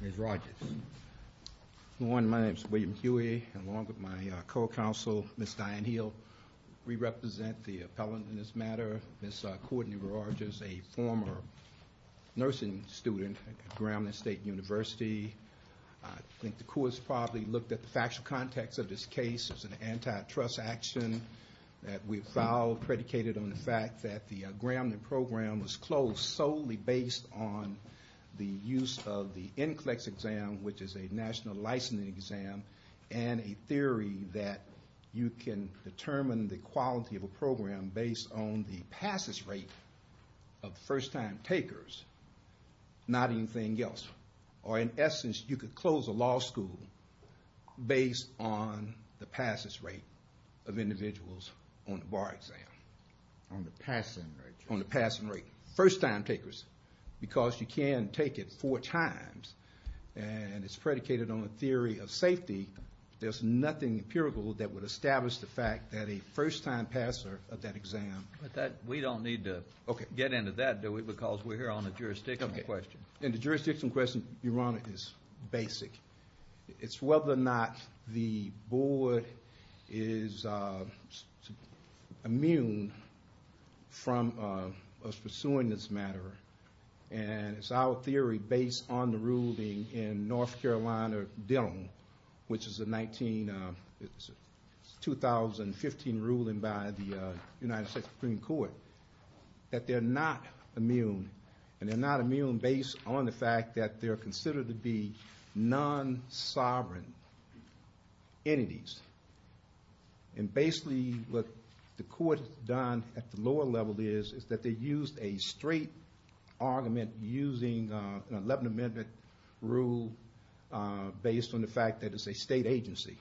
Ms. Rodgers. Good morning, my name is William Huey. Along with my co-counsel, Ms. Diane Hill, we represent the appellant in this matter, Ms. Kourtney Rodgers, a former nursing student at Gramland State University. I think the courts probably looked at the factual context of this case as an antitrust action that we filed predicated on the fact that the Gramland program was closed solely based on the use of the NCLEX exam, which is a national licensing exam, and a theory that you can determine the quality of a program based on the passes rate of first-time takers, not anything else. Or in essence, you could close a law school based on the passes rate of individuals on the bar exam. On the passing rate. On because you can take it four times. And it's predicated on a theory of safety. There's nothing empirical that would establish the fact that a first-time passer of that exam. But that, we don't need to get into that, do we? Because we're here on a jurisdiction question. And the jurisdiction question, Your Honor, is basic. It's whether or not the board is immune from us pursuing this matter. And it's our theory, based on the ruling in North Carolina Dillon, which is a 19, 2015 ruling by the United States Supreme Court, that they're not immune. And they're not immune based on the fact that they're considered to be non-sovereign entities. And basically what the court has done at the lower level is, is that they used a straight argument using an 11th Amendment rule based on the fact that it's a state agency.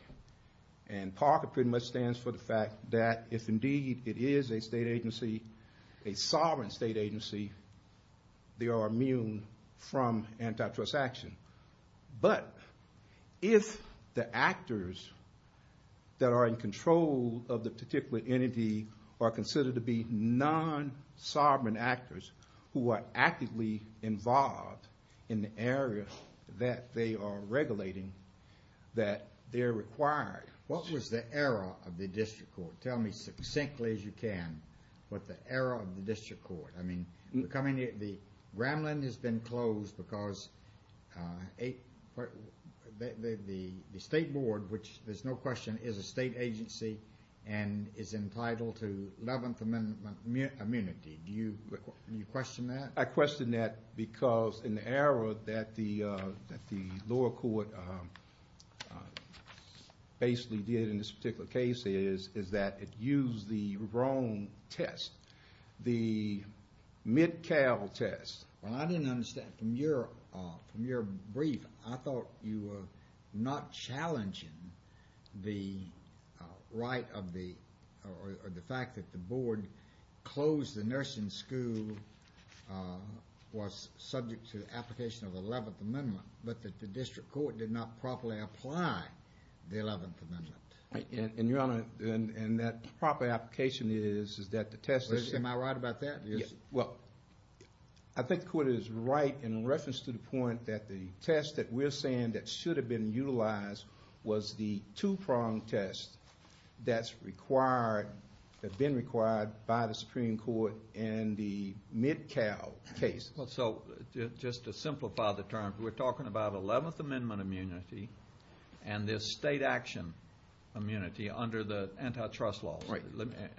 And PARCA pretty much stands for the fact that if indeed it is a state agency, a sovereign state agency, they are immune from antitrust action. But if the actors that are in control of the particular entity are considered to be non-sovereign actors who are actively involved in the area that they are regulating, that they're required. What was the error of the district court? Tell me succinctly as you can what the error of the district court. I mean, the Gramland has been closed because the state board, which there's no question, is a state agency and is entitled to 11th Amendment immunity. Do you question that? I question that because an error that the lower court basically did in this particular case is, is that it used the wrong test. The Mid-Cal test. Well, I didn't understand from your, from your brief, I thought you were not challenging the right of the, or the fact that the board closed the nursing school was subject to the application of the 11th Amendment, but that the district court did not properly apply the 11th Amendment. And your honor, and that proper application is, is that the test... Am I right about that? Well, I think the court is right in reference to the point that the test that we're saying that should have been utilized was the two-pronged test that's required, that's been required by the Supreme Court in the Mid-Cal case. Well, so just to simplify the terms, we're talking about 11th Amendment immunity and this state action immunity under the antitrust law. Right.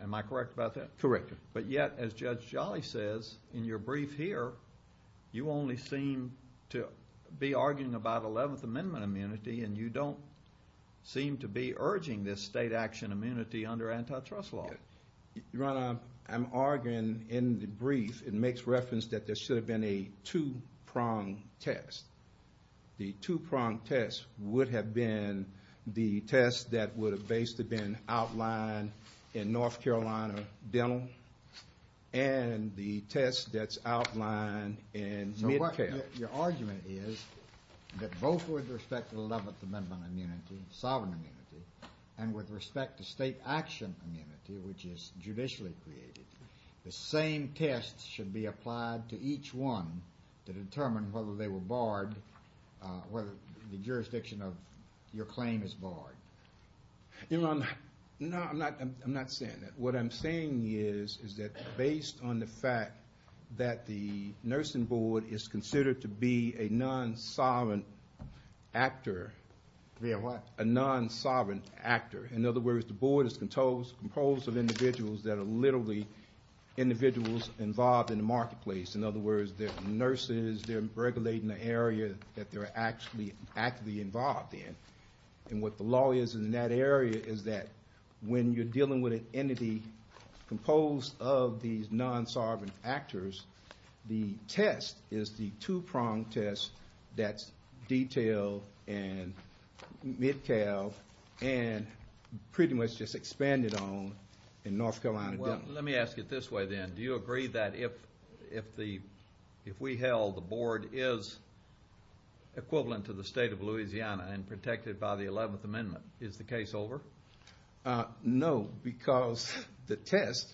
Am I correct about that? Correct. But yet, as Judge Jolly says in your brief here, you only seem to be arguing about 11th Amendment immunity and you don't seem to be urging this state action immunity under antitrust law. Your honor, I'm arguing in the brief, it makes reference that there should have been a two-pronged test. The two-pronged test would have been the test that would have basically been outlined in North Carolina Dental and the test that's outlined in Mid-Cal. Your argument is that both with respect to the 11th Amendment immunity, sovereign immunity, and with respect to state action immunity, which is judicially created, the same test should be applied to each one to determine whether they were barred, whether the jurisdiction of your claim is barred. Your honor, no, I'm not saying that. What I'm saying is, is that based on the fact that the nursing board is considered to be a non-sovereign actor. Yeah, what? A non-sovereign actor. In other words, the board is composed of individuals that are literally individuals involved in the marketplace. In other words, they're nurses, they're regulating the area that they're actually actively involved in. And what the law is in that area is that when you're dealing with an entity composed of these non-sovereign actors, the test is the two-pronged test that's detailed in Mid-Cal and pretty much just expanded on in North Carolina Dental. Well, let me ask it this way then. Do you agree that if, if the, if we held the board is equivalent to the state of Louisiana and protected by the Eleventh Amendment, is the case over? No, because the test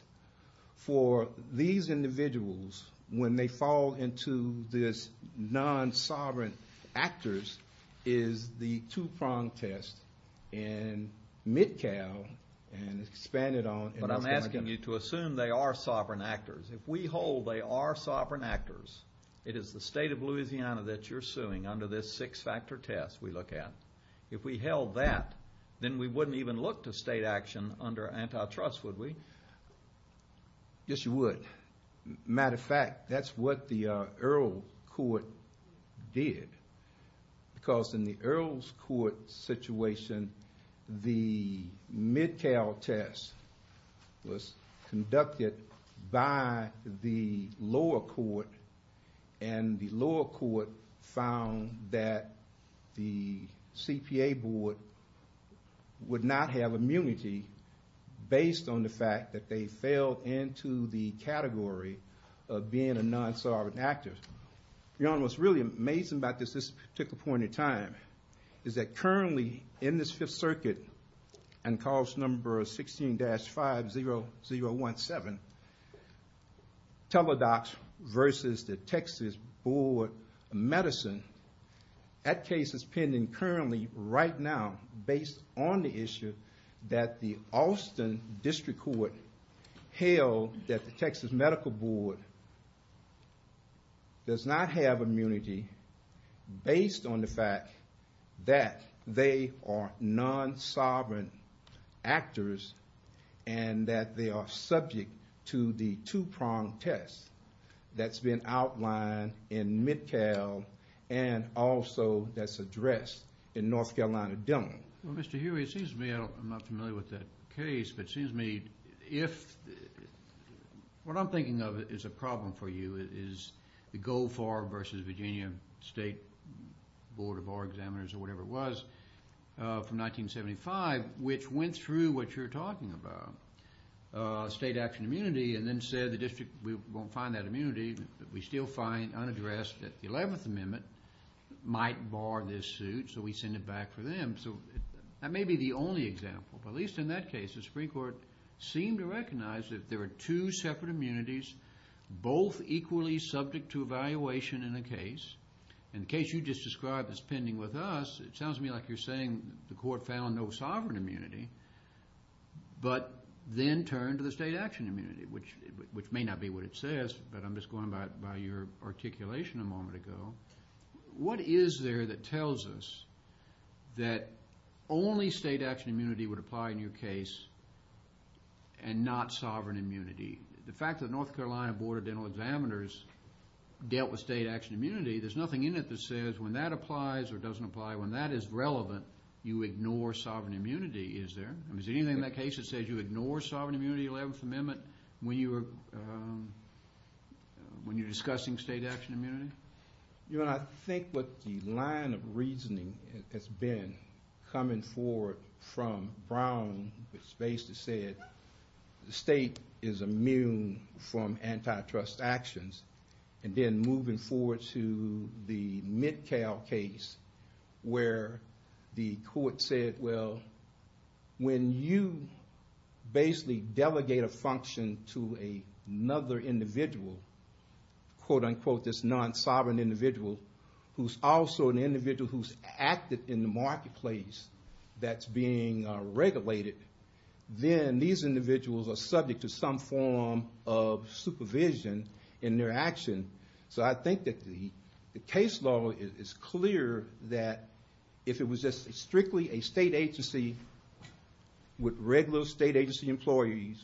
for these individuals when they fall into this non-sovereign actors is the two-pronged test in Mid-Cal and expanded on. But I'm asking you to assume they are sovereign actors. If we hold they are sovereign actors, it is the state of Louisiana. If we held that, then we wouldn't even look to state action under antitrust, would we? Yes, you would. Matter of fact, that's what the Earl Court did. Because in the Earl's Court situation, the Mid-Cal test was conducted by the board, would not have immunity based on the fact that they fell into the category of being a non-sovereign actor. You know what's really amazing about this, this particular point in time, is that currently in this Fifth Circuit and cause number 16-50017, Teladoc versus the Texas Board of Medicine, that case is currently, right now, based on the issue that the Austin District Court held that the Texas Medical Board does not have immunity based on the fact that they are non-sovereign actors and that they are subject to the two-pronged test that's been outlined in Mid-Cal and also that's addressed in North Carolina Dillon. Well, Mr. Huey, it seems to me, I'm not familiar with that case, but it seems to me if, what I'm thinking of is a problem for you, is the Goldfarb versus Virginia State Board of Bar Examiners or whatever it was from 1975, which went through what you're talking about, state action immunity, and then said the district won't find that we still find unaddressed that the 11th Amendment might bar this suit, so we send it back for them. So that may be the only example, but at least in that case, the Supreme Court seemed to recognize that there are two separate immunities, both equally subject to evaluation in a case, and the case you just described is pending with us. It sounds to me like you're saying the court found no sovereign immunity, but then turned to the state action immunity, which I'm just going by your articulation a moment ago. What is there that tells us that only state action immunity would apply in your case and not sovereign immunity? The fact that North Carolina Board of Dental Examiners dealt with state action immunity, there's nothing in it that says when that applies or doesn't apply, when that is relevant, you ignore sovereign immunity, is there? I mean, is there anything in that case that says you ignore sovereign immunity, 11th Amendment, when you're discussing state action immunity? I think what the line of reasoning has been, coming forward from Brown, which basically said the state is immune from antitrust actions, and then moving forward to the MidCal case, where the court said, well, when you basically delegate a function to another individual, quote unquote, this non-sovereign individual, who's also an individual who's active in the marketplace that's being regulated, then these individuals are subject to some form of supervision in their action. So I think that the case law is clear that if it was just strictly a state agency with regular state agency employees,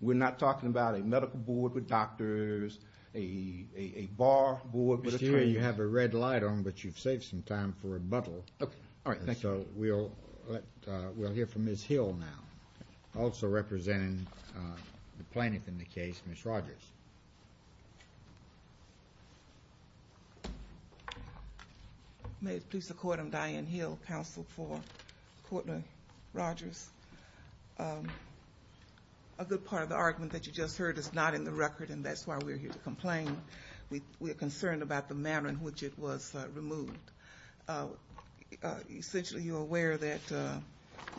we're not talking about a medical board with doctors, a bar board with attorneys. Mr. Healy, you have a red light on, but you've saved some time for rebuttal. Okay. All right. Thank you. So we'll hear from Ms. Hill now, also representing the plaintiff in the case, Ms. Rodgers. May it please the court, I'm Diane Hill, counsel for Courtney Rodgers. A good part of the argument that you just heard is not in the record, and that's why we're here to complain. We're concerned about the manner in which it was removed. Essentially, you're aware that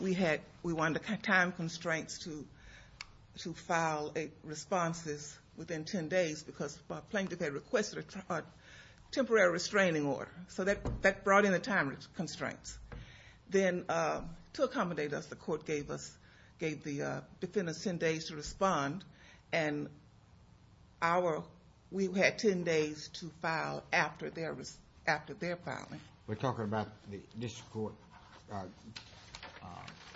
we had, we wanted time constraints to file responses within 10 days, because the plaintiff had requested a temporary restraining order. So that brought in the time constraints. Then to accommodate us, the court gave us, gave the defendants 10 days to respond, and our, we had 10 days to file after their filing. We're talking about the district court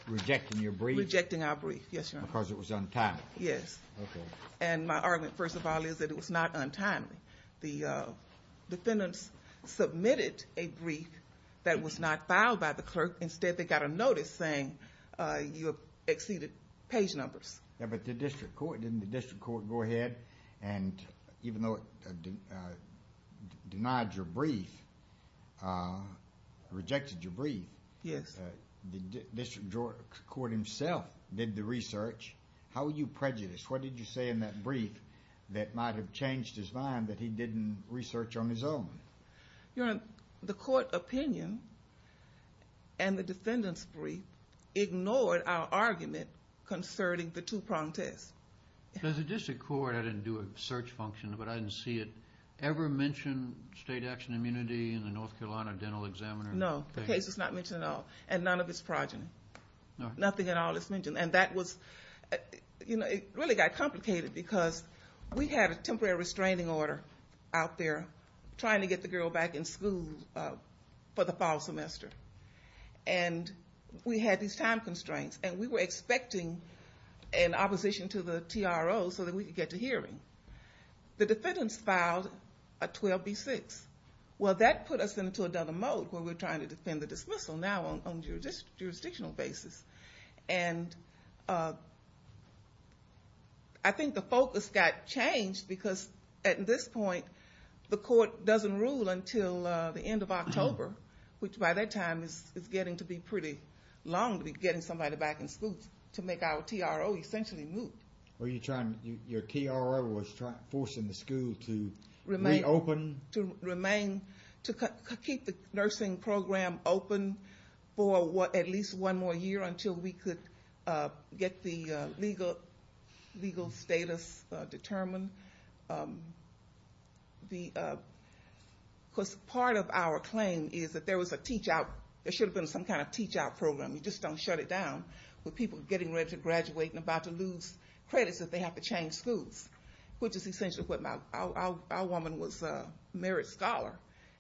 rejecting your brief. Rejecting our brief, yes, your honor. Because it was untimely. Yes. Okay. And my argument, first of all, is that it was not untimely. The defendants submitted a brief that was not filed by the clerk. Instead, they got a notice saying you have exceeded page numbers. Yeah, but the district court, didn't the district court go ahead and even though it denied your brief, rejected your brief. Yes. The district court himself did the research. How were you prejudiced? What did you say in that brief that might have changed his mind that he didn't research on his own? Your honor, the court opinion and the defendant's brief ignored our argument concerning the two-pronged test. Does the district court, I didn't do a search function, but I didn't see it, ever mention state action immunity in the case at all. And none of its progeny. Nothing at all is mentioned. And that was, you know, it really got complicated because we had a temporary restraining order out there trying to get the girl back in school for the fall semester. And we had these time constraints and we were expecting an opposition to the TRO so that we could get to hearing. The defendants filed a 12B6. Well, that put us into a mode where we're trying to defend the dismissal now on a jurisdictional basis. And I think the focus got changed because at this point the court doesn't rule until the end of October, which by that time is getting to be pretty long to be getting somebody back in school to make our TRO essentially move. Were you trying, your TRO was forcing the school to remain open, to remain, to keep the nursing program open for at least one more year until we could get the legal status determined? Because part of our claim is that there was a teach-out, there should have been some kind of teach-out program. You just don't shut it down with people getting ready to graduate and about to lose credits if they have to change schools, which is essentially what my, our woman was a merit scholar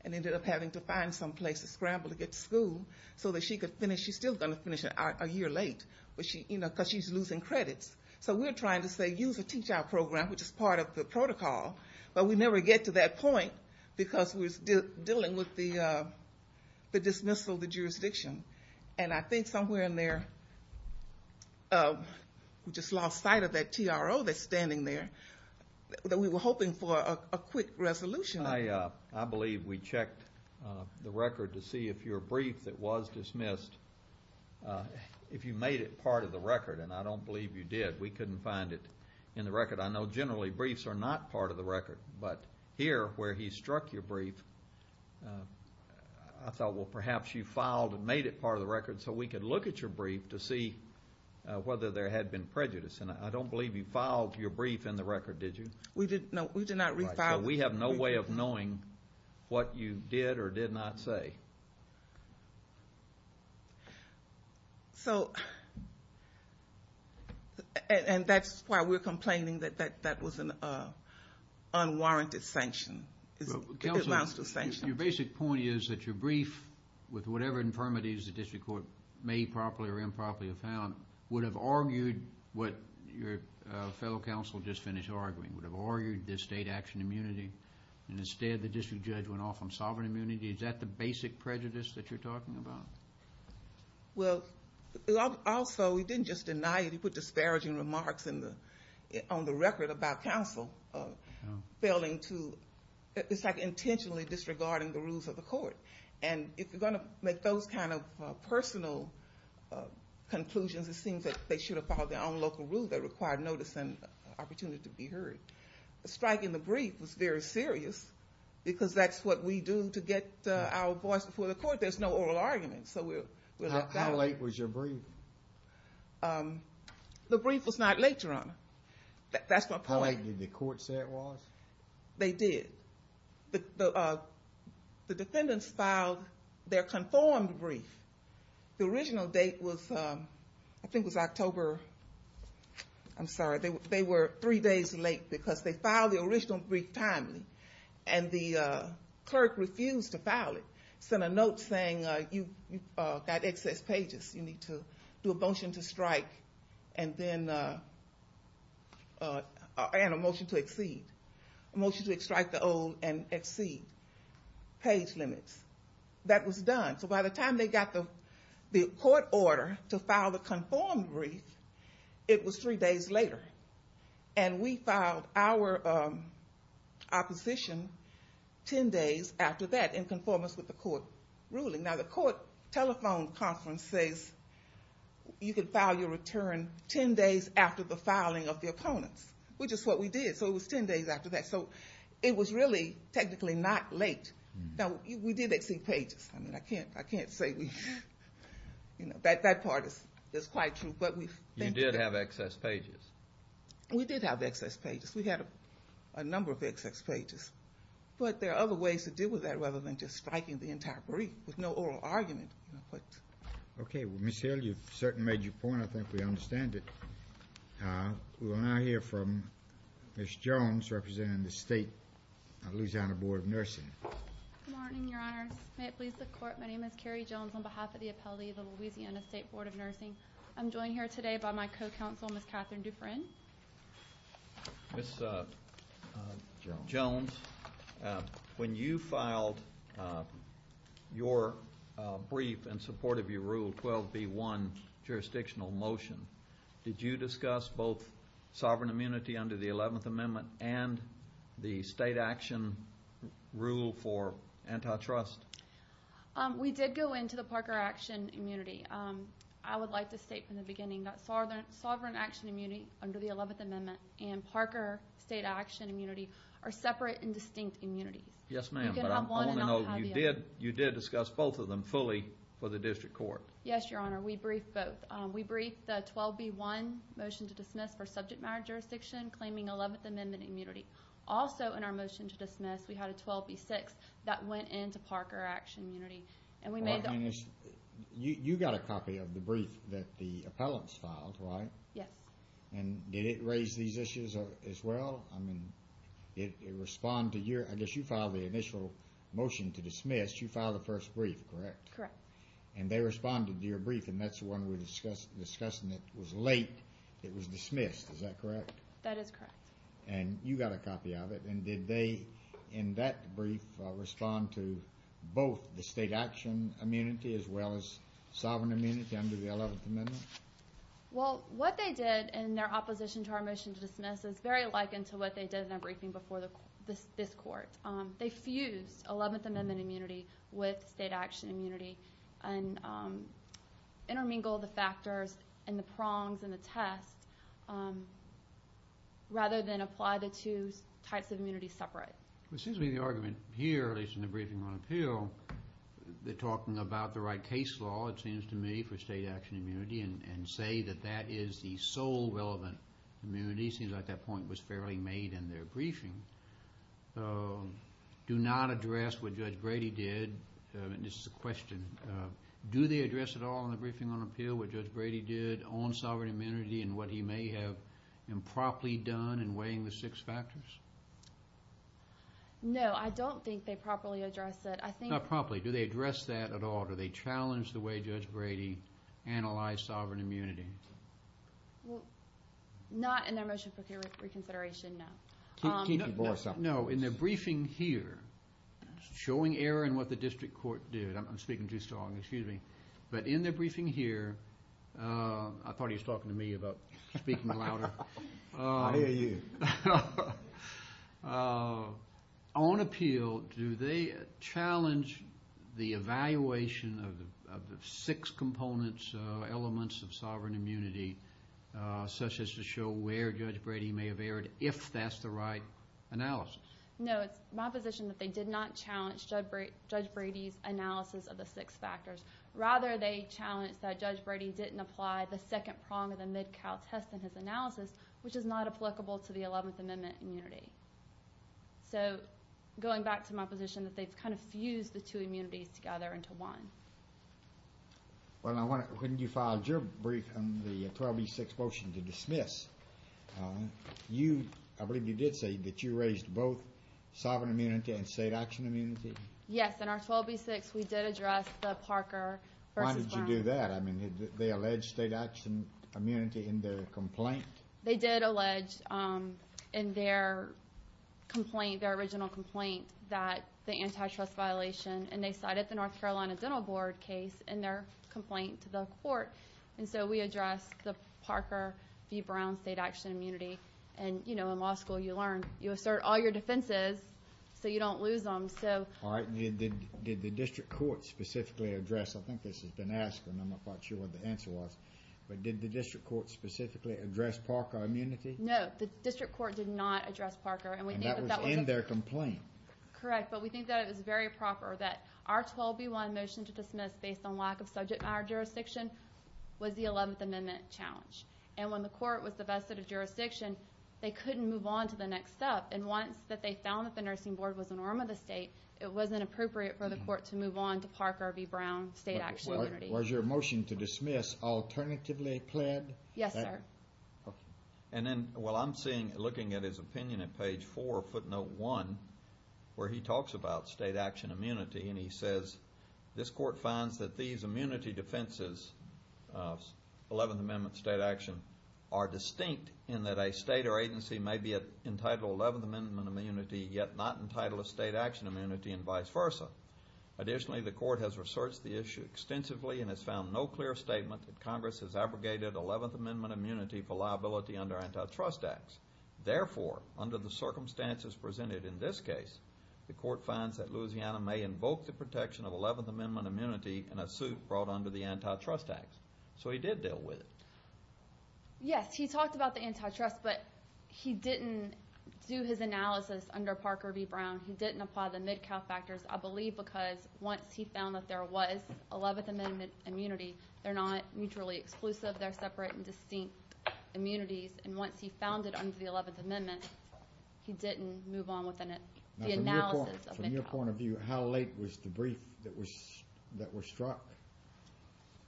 and ended up having to find some place to scramble to get to school so that she could finish, she's still going to finish a year late, because she's losing credits. So we're trying to say use a teach-out program, which is part of the protocol, but we never get to that point because we're dealing with the dismissal of the jurisdiction. And I think somewhere in there, we just lost sight of that TRO that's standing there, that we were hoping for a quick resolution. I believe we checked the record to see if your brief that was dismissed, if you made it part of the record, and I don't believe you did. We couldn't find it in the record. I know generally briefs are not part of the record, but here where he struck your brief, I thought, well, perhaps you filed and made it part of the record so we could look at your brief to see whether there had been prejudice. And I don't believe you filed your brief in the record, did you? We did not refile it. So we have no way of knowing what you did or did not say. So, and that's why we're complaining that that was an unwarranted sanction. Counsel, your basic point is that your brief, with whatever infirmities the district court made improperly or improperly found, would have argued what your fellow counsel just finished arguing, would have argued the state action immunity, and instead the district judge went off on sovereign immunity. Is that the basic prejudice that you're talking about? Well, also, he didn't just deny it, he put disparaging remarks on the record about counsel failing to... It's like intentionally disregarding the rules of the court. And if you're going to make those kind of personal conclusions, it seems that they should have followed their own local rule that required notice and opportunity to be heard. The strike in the brief was very serious, because that's what we do to get our voice before the court. There's no oral argument, so we're... How late was your brief? The brief was not late, Your Honor. That's my point. How late did the court say it was? They did. The defendants filed their conformed brief. The original date was, I think it was October... I'm sorry, they were three days late, because they filed the original brief timely, and the clerk refused to file it. Sent a note saying, you've got excess pages, you need to do a motion to strike, and then... And a motion to exceed. A motion to exceed. When we got the court order to file the conformed brief, it was three days later. And we filed our opposition ten days after that, in conformance with the court ruling. Now, the court telephone conference says, you can file your return ten days after the filing of the opponents, which is what we did. So it was ten days after that. So it was really technically not late. Now, we did exceed pages. I mean, I can't say we... That part is quite true, but we... You did have excess pages. We did have excess pages. We had a number of excess pages. But there are other ways to deal with that, rather than just striking the entire brief, with no oral argument. Okay. Well, Ms. Hill, you've certainly made your point. I think we understand it. We will now hear from Ms. Jones, representing the State Louisiana Board of Nursing. Good morning, Your Honors. May it please the court, my name is Carrie Jones, on behalf of the appellee of the Louisiana State Board of Nursing. I'm joined here today by my co-counsel, Ms. Catherine Dufresne. Ms. Jones, when you filed your brief in support of your Rule 12b1 jurisdictional motion, did you discuss both sovereign immunity under the 11th Amendment rule for antitrust? We did go into the Parker Action Immunity. I would like to state from the beginning that sovereign action immunity under the 11th Amendment and Parker State Action Immunity are separate and distinct immunities. Yes, ma'am. But I wanna know, you did discuss both of them fully for the district court. Yes, Your Honor. We briefed both. We briefed the 12b1 motion to dismiss for subject matter jurisdiction, claiming 11th Amendment immunity. Also, in our motion to dismiss, we had a 12b6 that went into Parker Action Immunity, and we made... You got a copy of the brief that the appellants filed, right? Yes. And did it raise these issues as well? It responded to your... I guess you filed the initial motion to dismiss, you filed the first brief, correct? Correct. And they responded to your brief, and that's the one we were discussing that was late. It was dismissed, is that correct? That is correct. And you got a copy of it. And did they, in that brief, respond to both the state action immunity as well as sovereign immunity under the 11th Amendment? Well, what they did in their opposition to our motion to dismiss is very likened to what they did in that briefing before this court. They fused 11th Amendment immunity with state action immunity, and intermingled the factors and the prongs and the test, rather than apply the two types of immunity separate. It seems to me the argument here, at least in the briefing on appeal, they're talking about the right case law, it seems to me, for state action immunity, and say that that is the sole relevant immunity. It seems like that point was fairly made in their briefing. Do not address what Judge Brady did, and this is a question, do they address at all in the briefing on appeal what Judge Brady did on sovereign immunity and what he may have improperly done in weighing the six factors? No, I don't think they properly address that. I think... Not properly. Do they address that at all? Do they challenge the way Judge Brady analyzed sovereign immunity? Well, not in their motion for reconsideration, no. Kiki Borsa. No, in their briefing here, showing error in what the district court did, I'm speaking too strong, excuse me, but in their briefing here, I thought he was talking to me about speaking louder. I hear you. On appeal, do they challenge the evaluation of the six components, elements of sovereign immunity, such as to show where Judge Brady may have erred, if that's the right analysis? No, it's my position that they did not challenge Judge Brady's analysis of the six factors. Rather, they challenged that Judge Brady didn't apply the second prong of the Mid-Cal test in his analysis, which is not applicable to the 11th Amendment immunity. So, going back to my position that they've kind of fused the two and you filed your brief on the 12B6 motion to dismiss, you, I believe you did say that you raised both sovereign immunity and state action immunity? Yes, in our 12B6, we did address the Parker versus Brown. Why did you do that? I mean, did they allege state action immunity in their complaint? They did allege in their complaint, their original complaint, that the antitrust violation, and they had a North Carolina Dental Board case in their complaint to the court. And so we addressed the Parker v. Brown state action immunity. And in law school, you learn, you assert all your defenses so you don't lose them. So... Alright, did the district court specifically address, I think this has been asked and I'm not quite sure what the answer was, but did the district court specifically address Parker immunity? No, the district court did not address Parker and we think that was... And that was in their complaint. Correct, but we think that it was very proper that our 12B1 motion to dismiss based on lack of subject matter jurisdiction was the 11th Amendment challenge. And when the court was the best set of jurisdiction, they couldn't move on to the next step. And once that they found that the nursing board was a norm of the state, it wasn't appropriate for the court to move on to Parker v. Brown state action immunity. Was your motion to dismiss alternatively pled? Yes, sir. Okay. And then, well, I'm seeing, looking at his opinion at page four, footnote one, where he talks about state action immunity and he says, this court finds that these immunity defenses, 11th Amendment state action, are distinct in that a state or agency may be entitled to 11th Amendment immunity, yet not entitled to state action immunity and vice versa. Additionally, the court has researched the issue extensively and has found no clear statement that Congress has abrogated 11th Amendment immunity for liability under antitrust acts. Therefore, under the circumstances presented in this case, the court finds that Louisiana may invoke the protection of 11th Amendment immunity in a suit brought under the antitrust acts. So he did deal with it. Yes, he talked about the antitrust, but he didn't do his analysis under Parker v. Brown. He didn't apply the Midcalf factors, I believe, because once he found that there was 11th Amendment immunity, they're not mutually exclusive, they're separate and distinct immunities. And once he found it under the 11th Amendment, he didn't move on with the analysis of Midcalf. From your point of view, how late was the brief that was struck?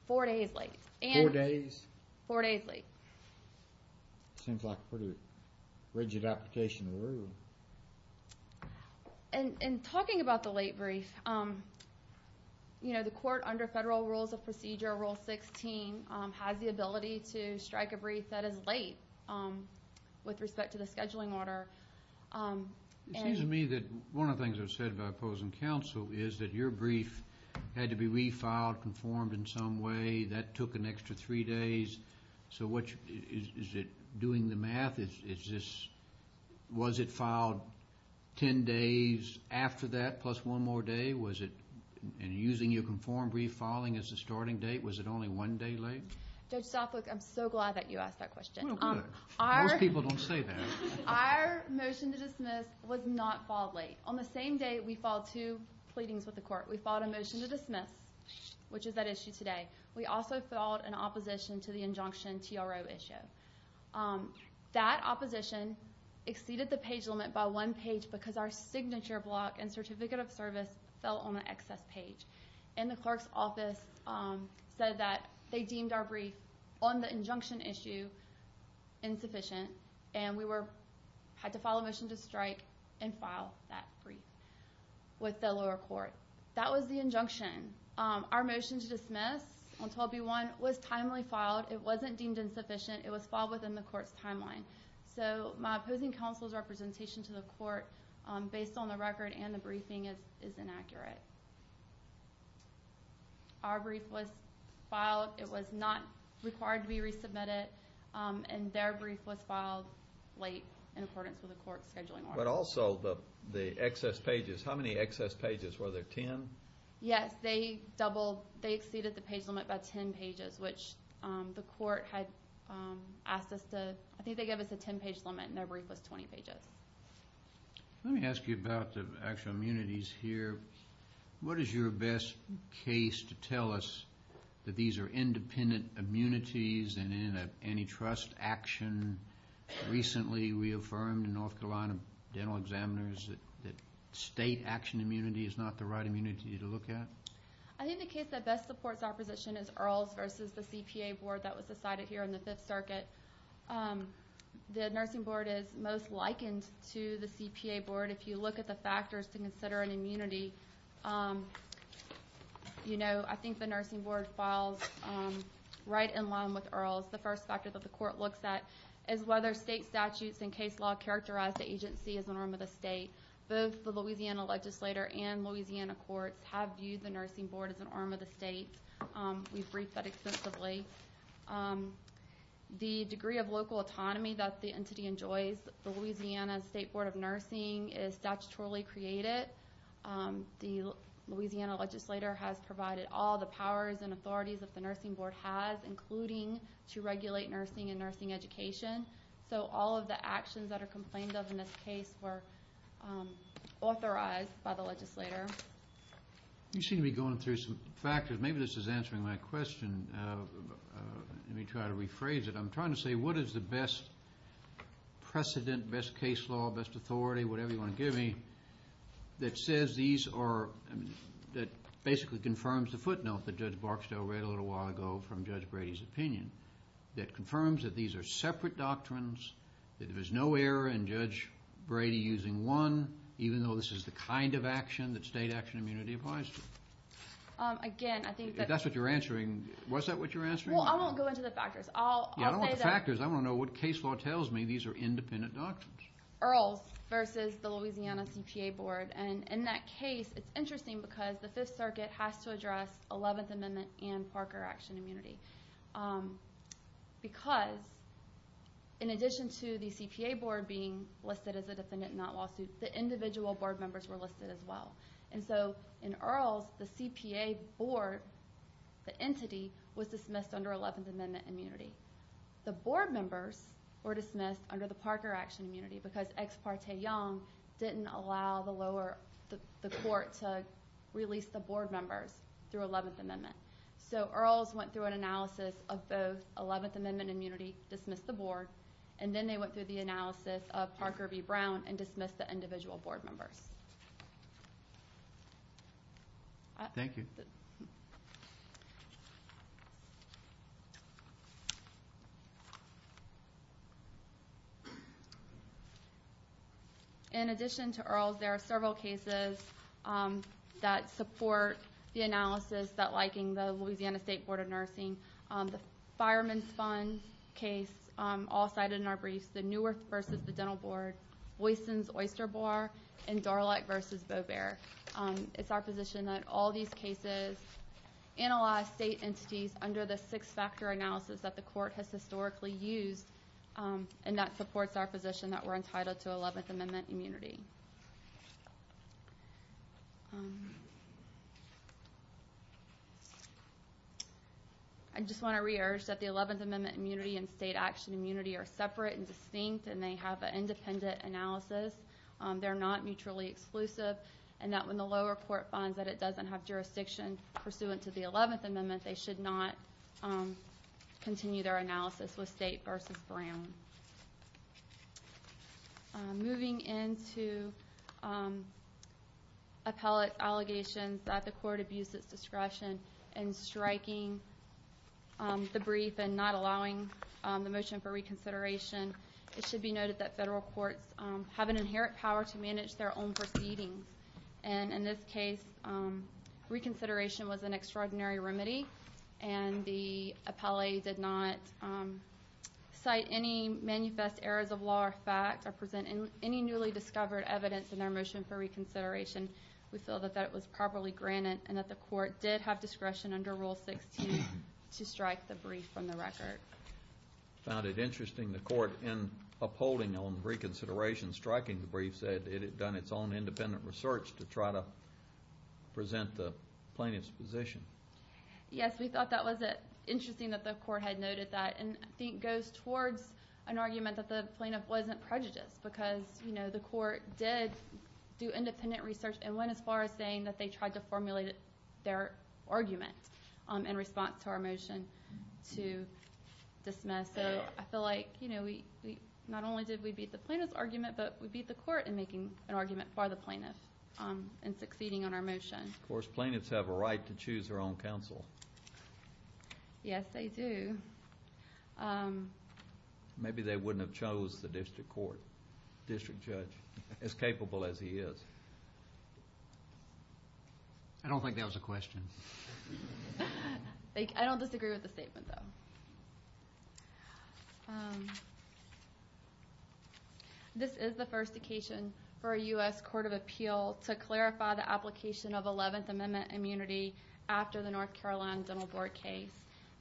Four days late. Four days? Four days late. It seems like a pretty rigid application of the rule. And talking about the late brief, the court under federal rules of procedure, Rule 16, has the ability to with respect to the scheduling order... It seems to me that one of the things that was said by opposing counsel is that your brief had to be refiled, conformed in some way. That took an extra three days. So what... Is it doing the math? Is this... Was it filed 10 days after that, plus one more day? Was it... And using your conformed brief filing as the starting date, was it only one day late? Judge Stopwick, I'm so glad that you don't say that. Our motion to dismiss was not filed late. On the same day, we filed two pleadings with the court. We filed a motion to dismiss, which is that issue today. We also filed an opposition to the injunction TRO issue. That opposition exceeded the page limit by one page because our signature block and certificate of service fell on the excess page. And the clerk's office said that they deemed our brief on the 12B1, and we were... Had to file a motion to strike and file that brief with the lower court. That was the injunction. Our motion to dismiss on 12B1 was timely filed. It wasn't deemed insufficient. It was filed within the court's timeline. So my opposing counsel's representation to the court, based on the record and the briefing, is inaccurate. Our brief was filed. It was not required to be resubmitted, and their brief was filed late in accordance with the court's scheduling order. But also, the excess pages. How many excess pages? Were there 10? Yes, they doubled... They exceeded the page limit by 10 pages, which the court had asked us to... I think they gave us a 10 page limit, and their brief was 20 pages. Let me ask you about the actual immunities here. What is your best case to tell us that these are independent immunities and antitrust action? Recently, we affirmed in North Carolina Dental Examiners that state action immunity is not the right immunity to look at? I think the case that best supports our position is Earls versus the CPA board that was decided here in the Fifth Circuit. The nursing board is most likened to the CPA board. If you look at the factors to consider an immunity, I think the nursing board falls right in line with Earls. The first factor that the court looks at is whether state statutes and case law characterize the agency as an arm of the state. Both the Louisiana legislator and Louisiana courts have viewed the nursing board as an arm of the state. We've briefed that extensively. The degree of local autonomy that the entity enjoys, the Louisiana State Board of Nursing is statutorily created. The Louisiana legislator has provided all the powers and authorities that the nursing board has, including to regulate nursing and nursing education. So all of the actions that are complained of in this case were authorized by the legislator. You seem to be going through some factors. Maybe this is answering my question. Let me try to rephrase it. I'm trying to say what is the best precedent, best case law, best authority, whatever you want to give me, that says these are, that basically confirms the footnote that Judge Barksdale read a little while ago from Judge Brady's opinion, that confirms that these are separate doctrines, that there's no error in Judge Brady using one, even though this is the kind of action that state action immunity applies to. Again, I think that... If that's what you're answering, was that what you're answering? Well, I won't go into the factors. I'll say that... Yeah, I don't want the factors. I want to know what case law tells me these are independent doctrines. Earls versus the Louisiana CPA board. And in that case, it's interesting because the Fifth Circuit has to address 11th Amendment and Parker action immunity. Because in addition to the CPA board being listed as a defendant in that lawsuit, the individual board members were listed as well. And so in Earls, the CPA board, the entity, was dismissed under 11th Amendment immunity. The board members were dismissed under the Parker action immunity because Ex Parte Young didn't allow the court to release the board members through 11th Amendment. So Earls went through an analysis of both 11th Amendment immunity, dismissed the board, and then they went through the analysis of Parker v. Brown and dismissed the individual board members. Thank you. In addition to Earls, there are several cases that support the analysis that liking the Louisiana State Board of Nursing. The Fireman's Fund case, all cited in our briefs, the Newerth versus the Dental Board, Boyson's Oyster Bar, and Dorlek versus Beauvair. It's our position that all these cases analyze state entities under the six-factor analysis that the court has historically used and that supports our position that we're entitled to 11th Amendment immunity. I just want to re-urge that the 11th Amendment immunity and state action immunity are separate and distinct and they have an independent analysis. They're not mutually exclusive and that when the lower court finds that it should not continue their analysis with State versus Brown. Moving into appellate allegations that the court abused its discretion in striking the brief and not allowing the motion for reconsideration, it should be noted that federal courts have an inherent power to manage their own and the appellate did not cite any manifest errors of law or fact or present any newly discovered evidence in their motion for reconsideration. We feel that that was properly granted and that the court did have discretion under Rule 16 to strike the brief from the record. Found it interesting the court in upholding on reconsideration striking the brief said it had done its own independent research to try to present the plaintiff's position. Yes, we thought that was interesting that the court had noted that and I think goes towards an argument that the plaintiff wasn't prejudiced because you know the court did do independent research and went as far as saying that they tried to formulate their argument in response to our motion to dismiss. So I feel like you know we not only did we beat the plaintiff's argument but we beat the court in making an argument for the plaintiff and succeeding on our motion. Of course, plaintiffs have a right to choose their own counsel. Yes, they do. Maybe they wouldn't have chose the district court, district judge as capable as he is. I don't think that was a question. I don't disagree with the statement though. This is the first occasion for a U.S. Court of Appeal to clarify the 11th Amendment immunity after the North Carolina Dental Board case.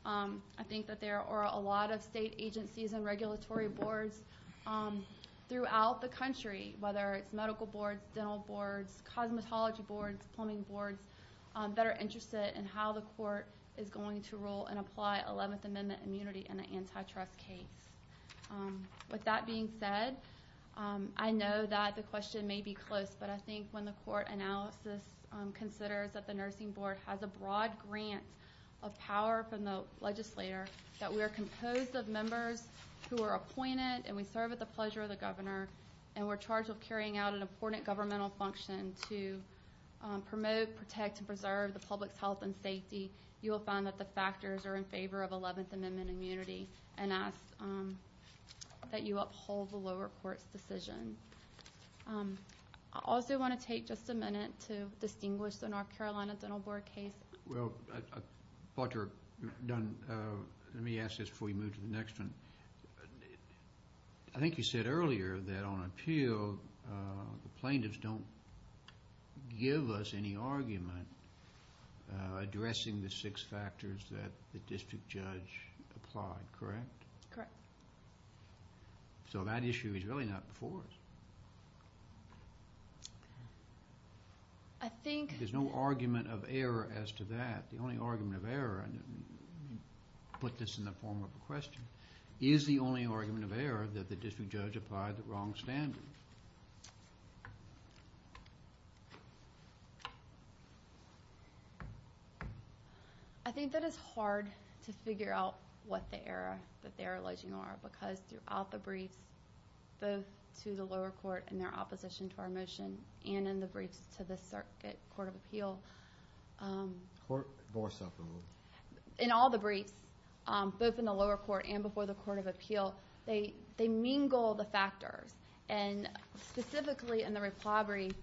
I think that there are a lot of state agencies and regulatory boards throughout the country whether it's medical boards, dental boards, cosmetology boards, plumbing boards that are interested in how the court is going to rule and apply 11th Amendment immunity in an antitrust case. With that being said, I know that the question may be close but I think when the court analysis considers that the nursing board has a broad grant of power from the legislator that we are composed of members who are appointed and we serve at the pleasure of the governor and we're charged with carrying out an important governmental function to promote, protect, and preserve the public's health and safety, you will find that the factors are in favor of 11th Amendment immunity and ask that you uphold the lower court's decision. I also want to take just a minute to distinguish the North Carolina Dental Board case. Well, Dr. Dunn, let me ask this before you move to the next one. I think you said earlier that on appeal the plaintiffs don't give us any argument addressing the six factors that the district judge applied, correct? Correct. So that issue is really not before us. I think... There's no argument of error as to that. The only argument of error, put this in the form of a question, is the only argument of error that the district judge applied the wrong standard. I think that it's hard to figure out what the error that they're alleging are because throughout the briefs, both to the lower court and their opposition to our motion, and in the briefs to the circuit court of appeal... Court for self-review. In all the briefs, both in the lower court and before the court of appeal, they mingle the factors. And specifically in the repliability,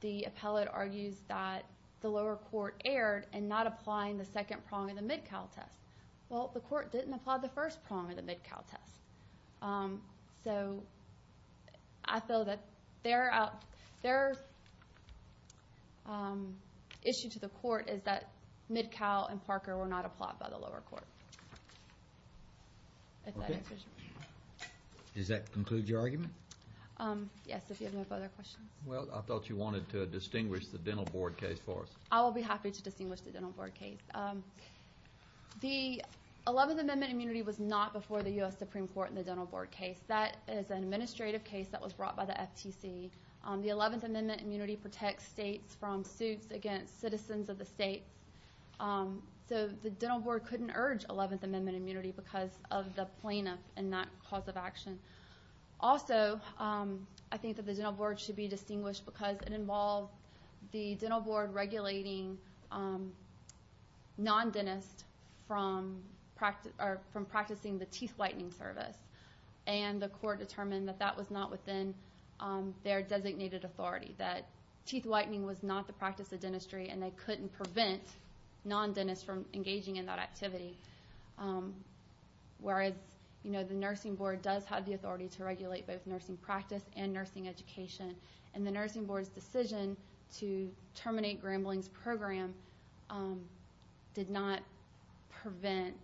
the appellate argues that the lower court erred in not applying the second prong of the Mid-Cal test. Well, the court didn't apply the first prong of the Mid-Cal test. So I feel that their issue to the court is that Mid-Cal and Parker were not applied by the lower court. Does that conclude your argument? Yes, if you have no further questions. Well, I thought you wanted to distinguish the Dental Board case for us. I will be happy to distinguish the Dental Board case. The 11th Amendment immunity was not before the US Supreme Court in the Dental Board case. That is an administrative case that was brought by the FTC. The 11th Amendment immunity protects states from suits against citizens of the states. So the Dental Board couldn't urge 11th Amendment immunity because of the plaintiff and that cause of action. Also, I think that the Dental Board should be distinguished because it involved the Dental Board regulating non-dentists from practicing the teeth whitening service. And the court determined that that was not within their designated authority, that teeth whitening was not the practice of dentistry and they couldn't prevent non-dentists from engaging in that activity. Whereas, you know, the Nursing Board does have the authority to regulate both nursing practice and nursing education. And the Nursing Board's decision to terminate Grambling's program did not prevent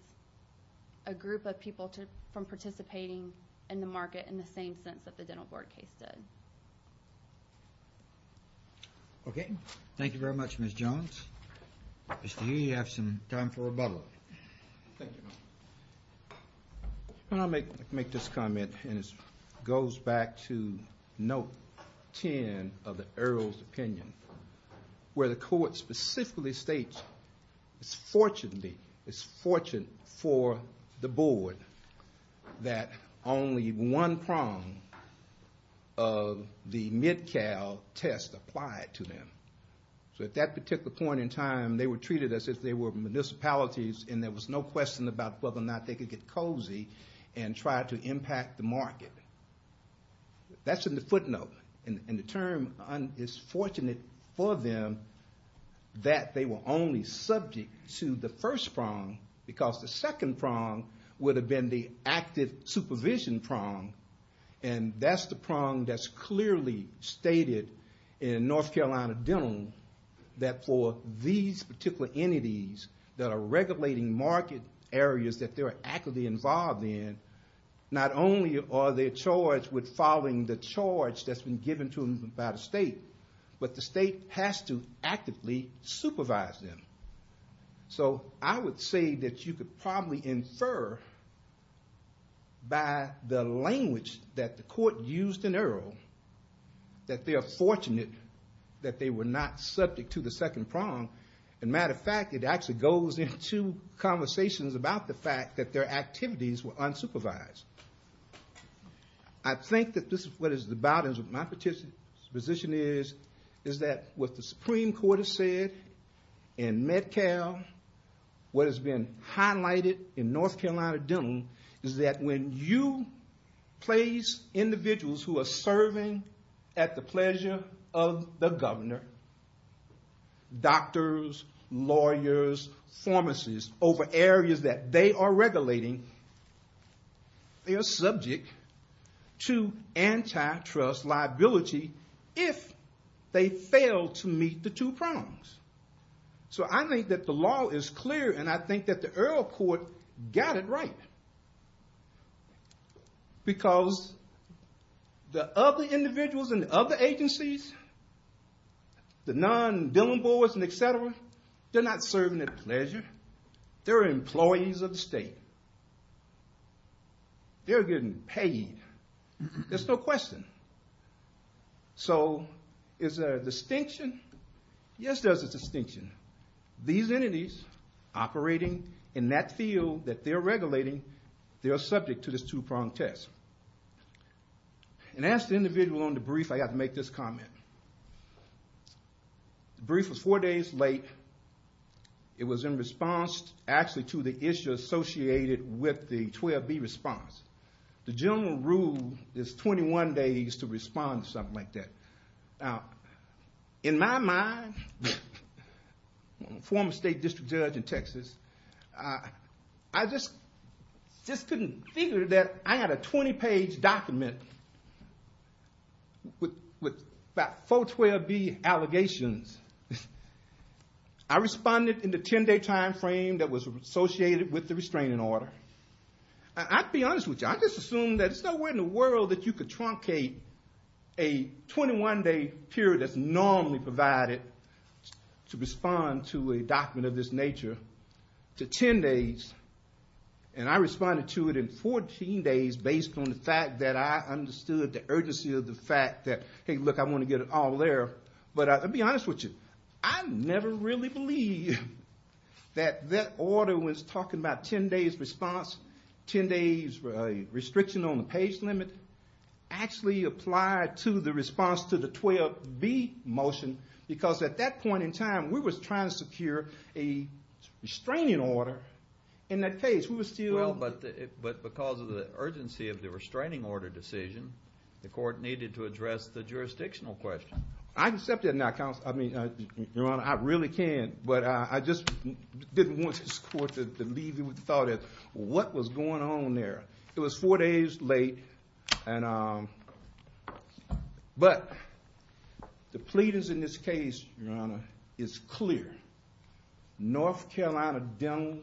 a group of people from participating in the market in the same sense that the Dental Board case did. Okay, thank you very much, Ms. Jones. Mr. Healy, you have some time for rebuttal. Thank you. I'll make this comment and it goes back to note 10 of the Earl's opinion, where the court specifically states it's fortunate for the board that only one prong of the Mid-Cal test applied to them. So at that particular point in time, they were treated as if they were municipalities and there was no question about whether or not they could get cozy and try to impact the market. That's in the footnote and the term is fortunate for them that they were only subject to the first prong because the second prong would have been the active supervision prong and that's the prong that's clearly stated in North Carolina Dental that for these particular entities that are regulating market areas that they're actively involved in, not only are they charged with following the charge that's been given to them by the state, but the state has to actively supervise them. So I would say that you could probably infer by the language that the court used in Earl that they are fortunate that they were not subject to the second prong. As a matter of fact, it actually goes into conversations about the fact that their activities were unsupervised. I think that this is what is the bottom of my position is, is that what the Supreme Court has said in Med-Cal, what has been highlighted in North Carolina Dental is that when you place individuals who are serving at the pleasure of the governor, doctors, lawyers, pharmacists over areas that they are regulating, they are subject to antitrust liability if they fail to meet the two prongs. So I think that the law is clear and I think that the Earl court got it right because the other individuals and other agencies, the non-Dillen boards and et cetera, they're not serving at pleasure. They're employees of the state. They're getting paid. There's no question. So is there a distinction? Yes, there's a distinction. These entities operating in that field that they're regulating, they're subject to this two prong test. And as the individual on the brief, I got to make this comment. The brief was four days late. It was in response actually to the issue associated with the 12B response. The general rule is 21 days to respond to something like that. Now, in my mind, former state district judge in Texas, I just couldn't figure that I had a 20 page document with about 412B allegations. I responded in the 10 day timeframe that was associated with the restraining order. I'll be honest with you. I just assumed that it's nowhere in the world that you could truncate a 21 day period that's normally provided to respond to a document of this nature to 10 days. And I responded to it in 14 days based on the fact that I understood the urgency of the fact that, hey, look, I want to get it all there. But I'll be honest with you. I never really believed that that order was talking about 10 days response, 10 days restriction on the page limit actually applied to the response to the 12B motion. Because at that point in time, we was trying to secure a restraining order in that case. We were still- Well, but because of the urgency of the restraining order decision, the court needed to address the jurisdictional question. I accept that now, Your Honor. I really can. But I just didn't want this court to leave you without it. What was going on there? It was four days late. But the pleadings in this case, Your Honor, is clear. North Carolina Dental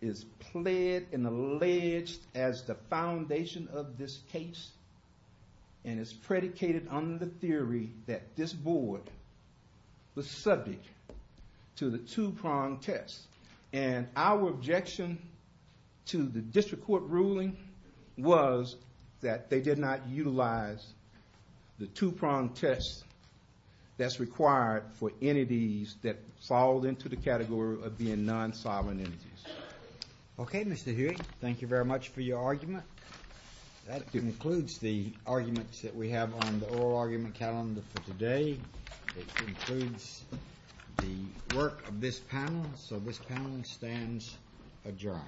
is pled and alleged as the foundation of this case. And it's predicated on the theory that this board was subject to the two-prong test. And our objection to the district court ruling was that they did not utilize the two-prong test that's required for entities that fall into the category of being non-solid entities. OK, Mr. Huey. Thank you very much for your argument. That concludes the arguments that we have on the oral argument calendar for today. It concludes the work of this panel. So this panel stands adjourned.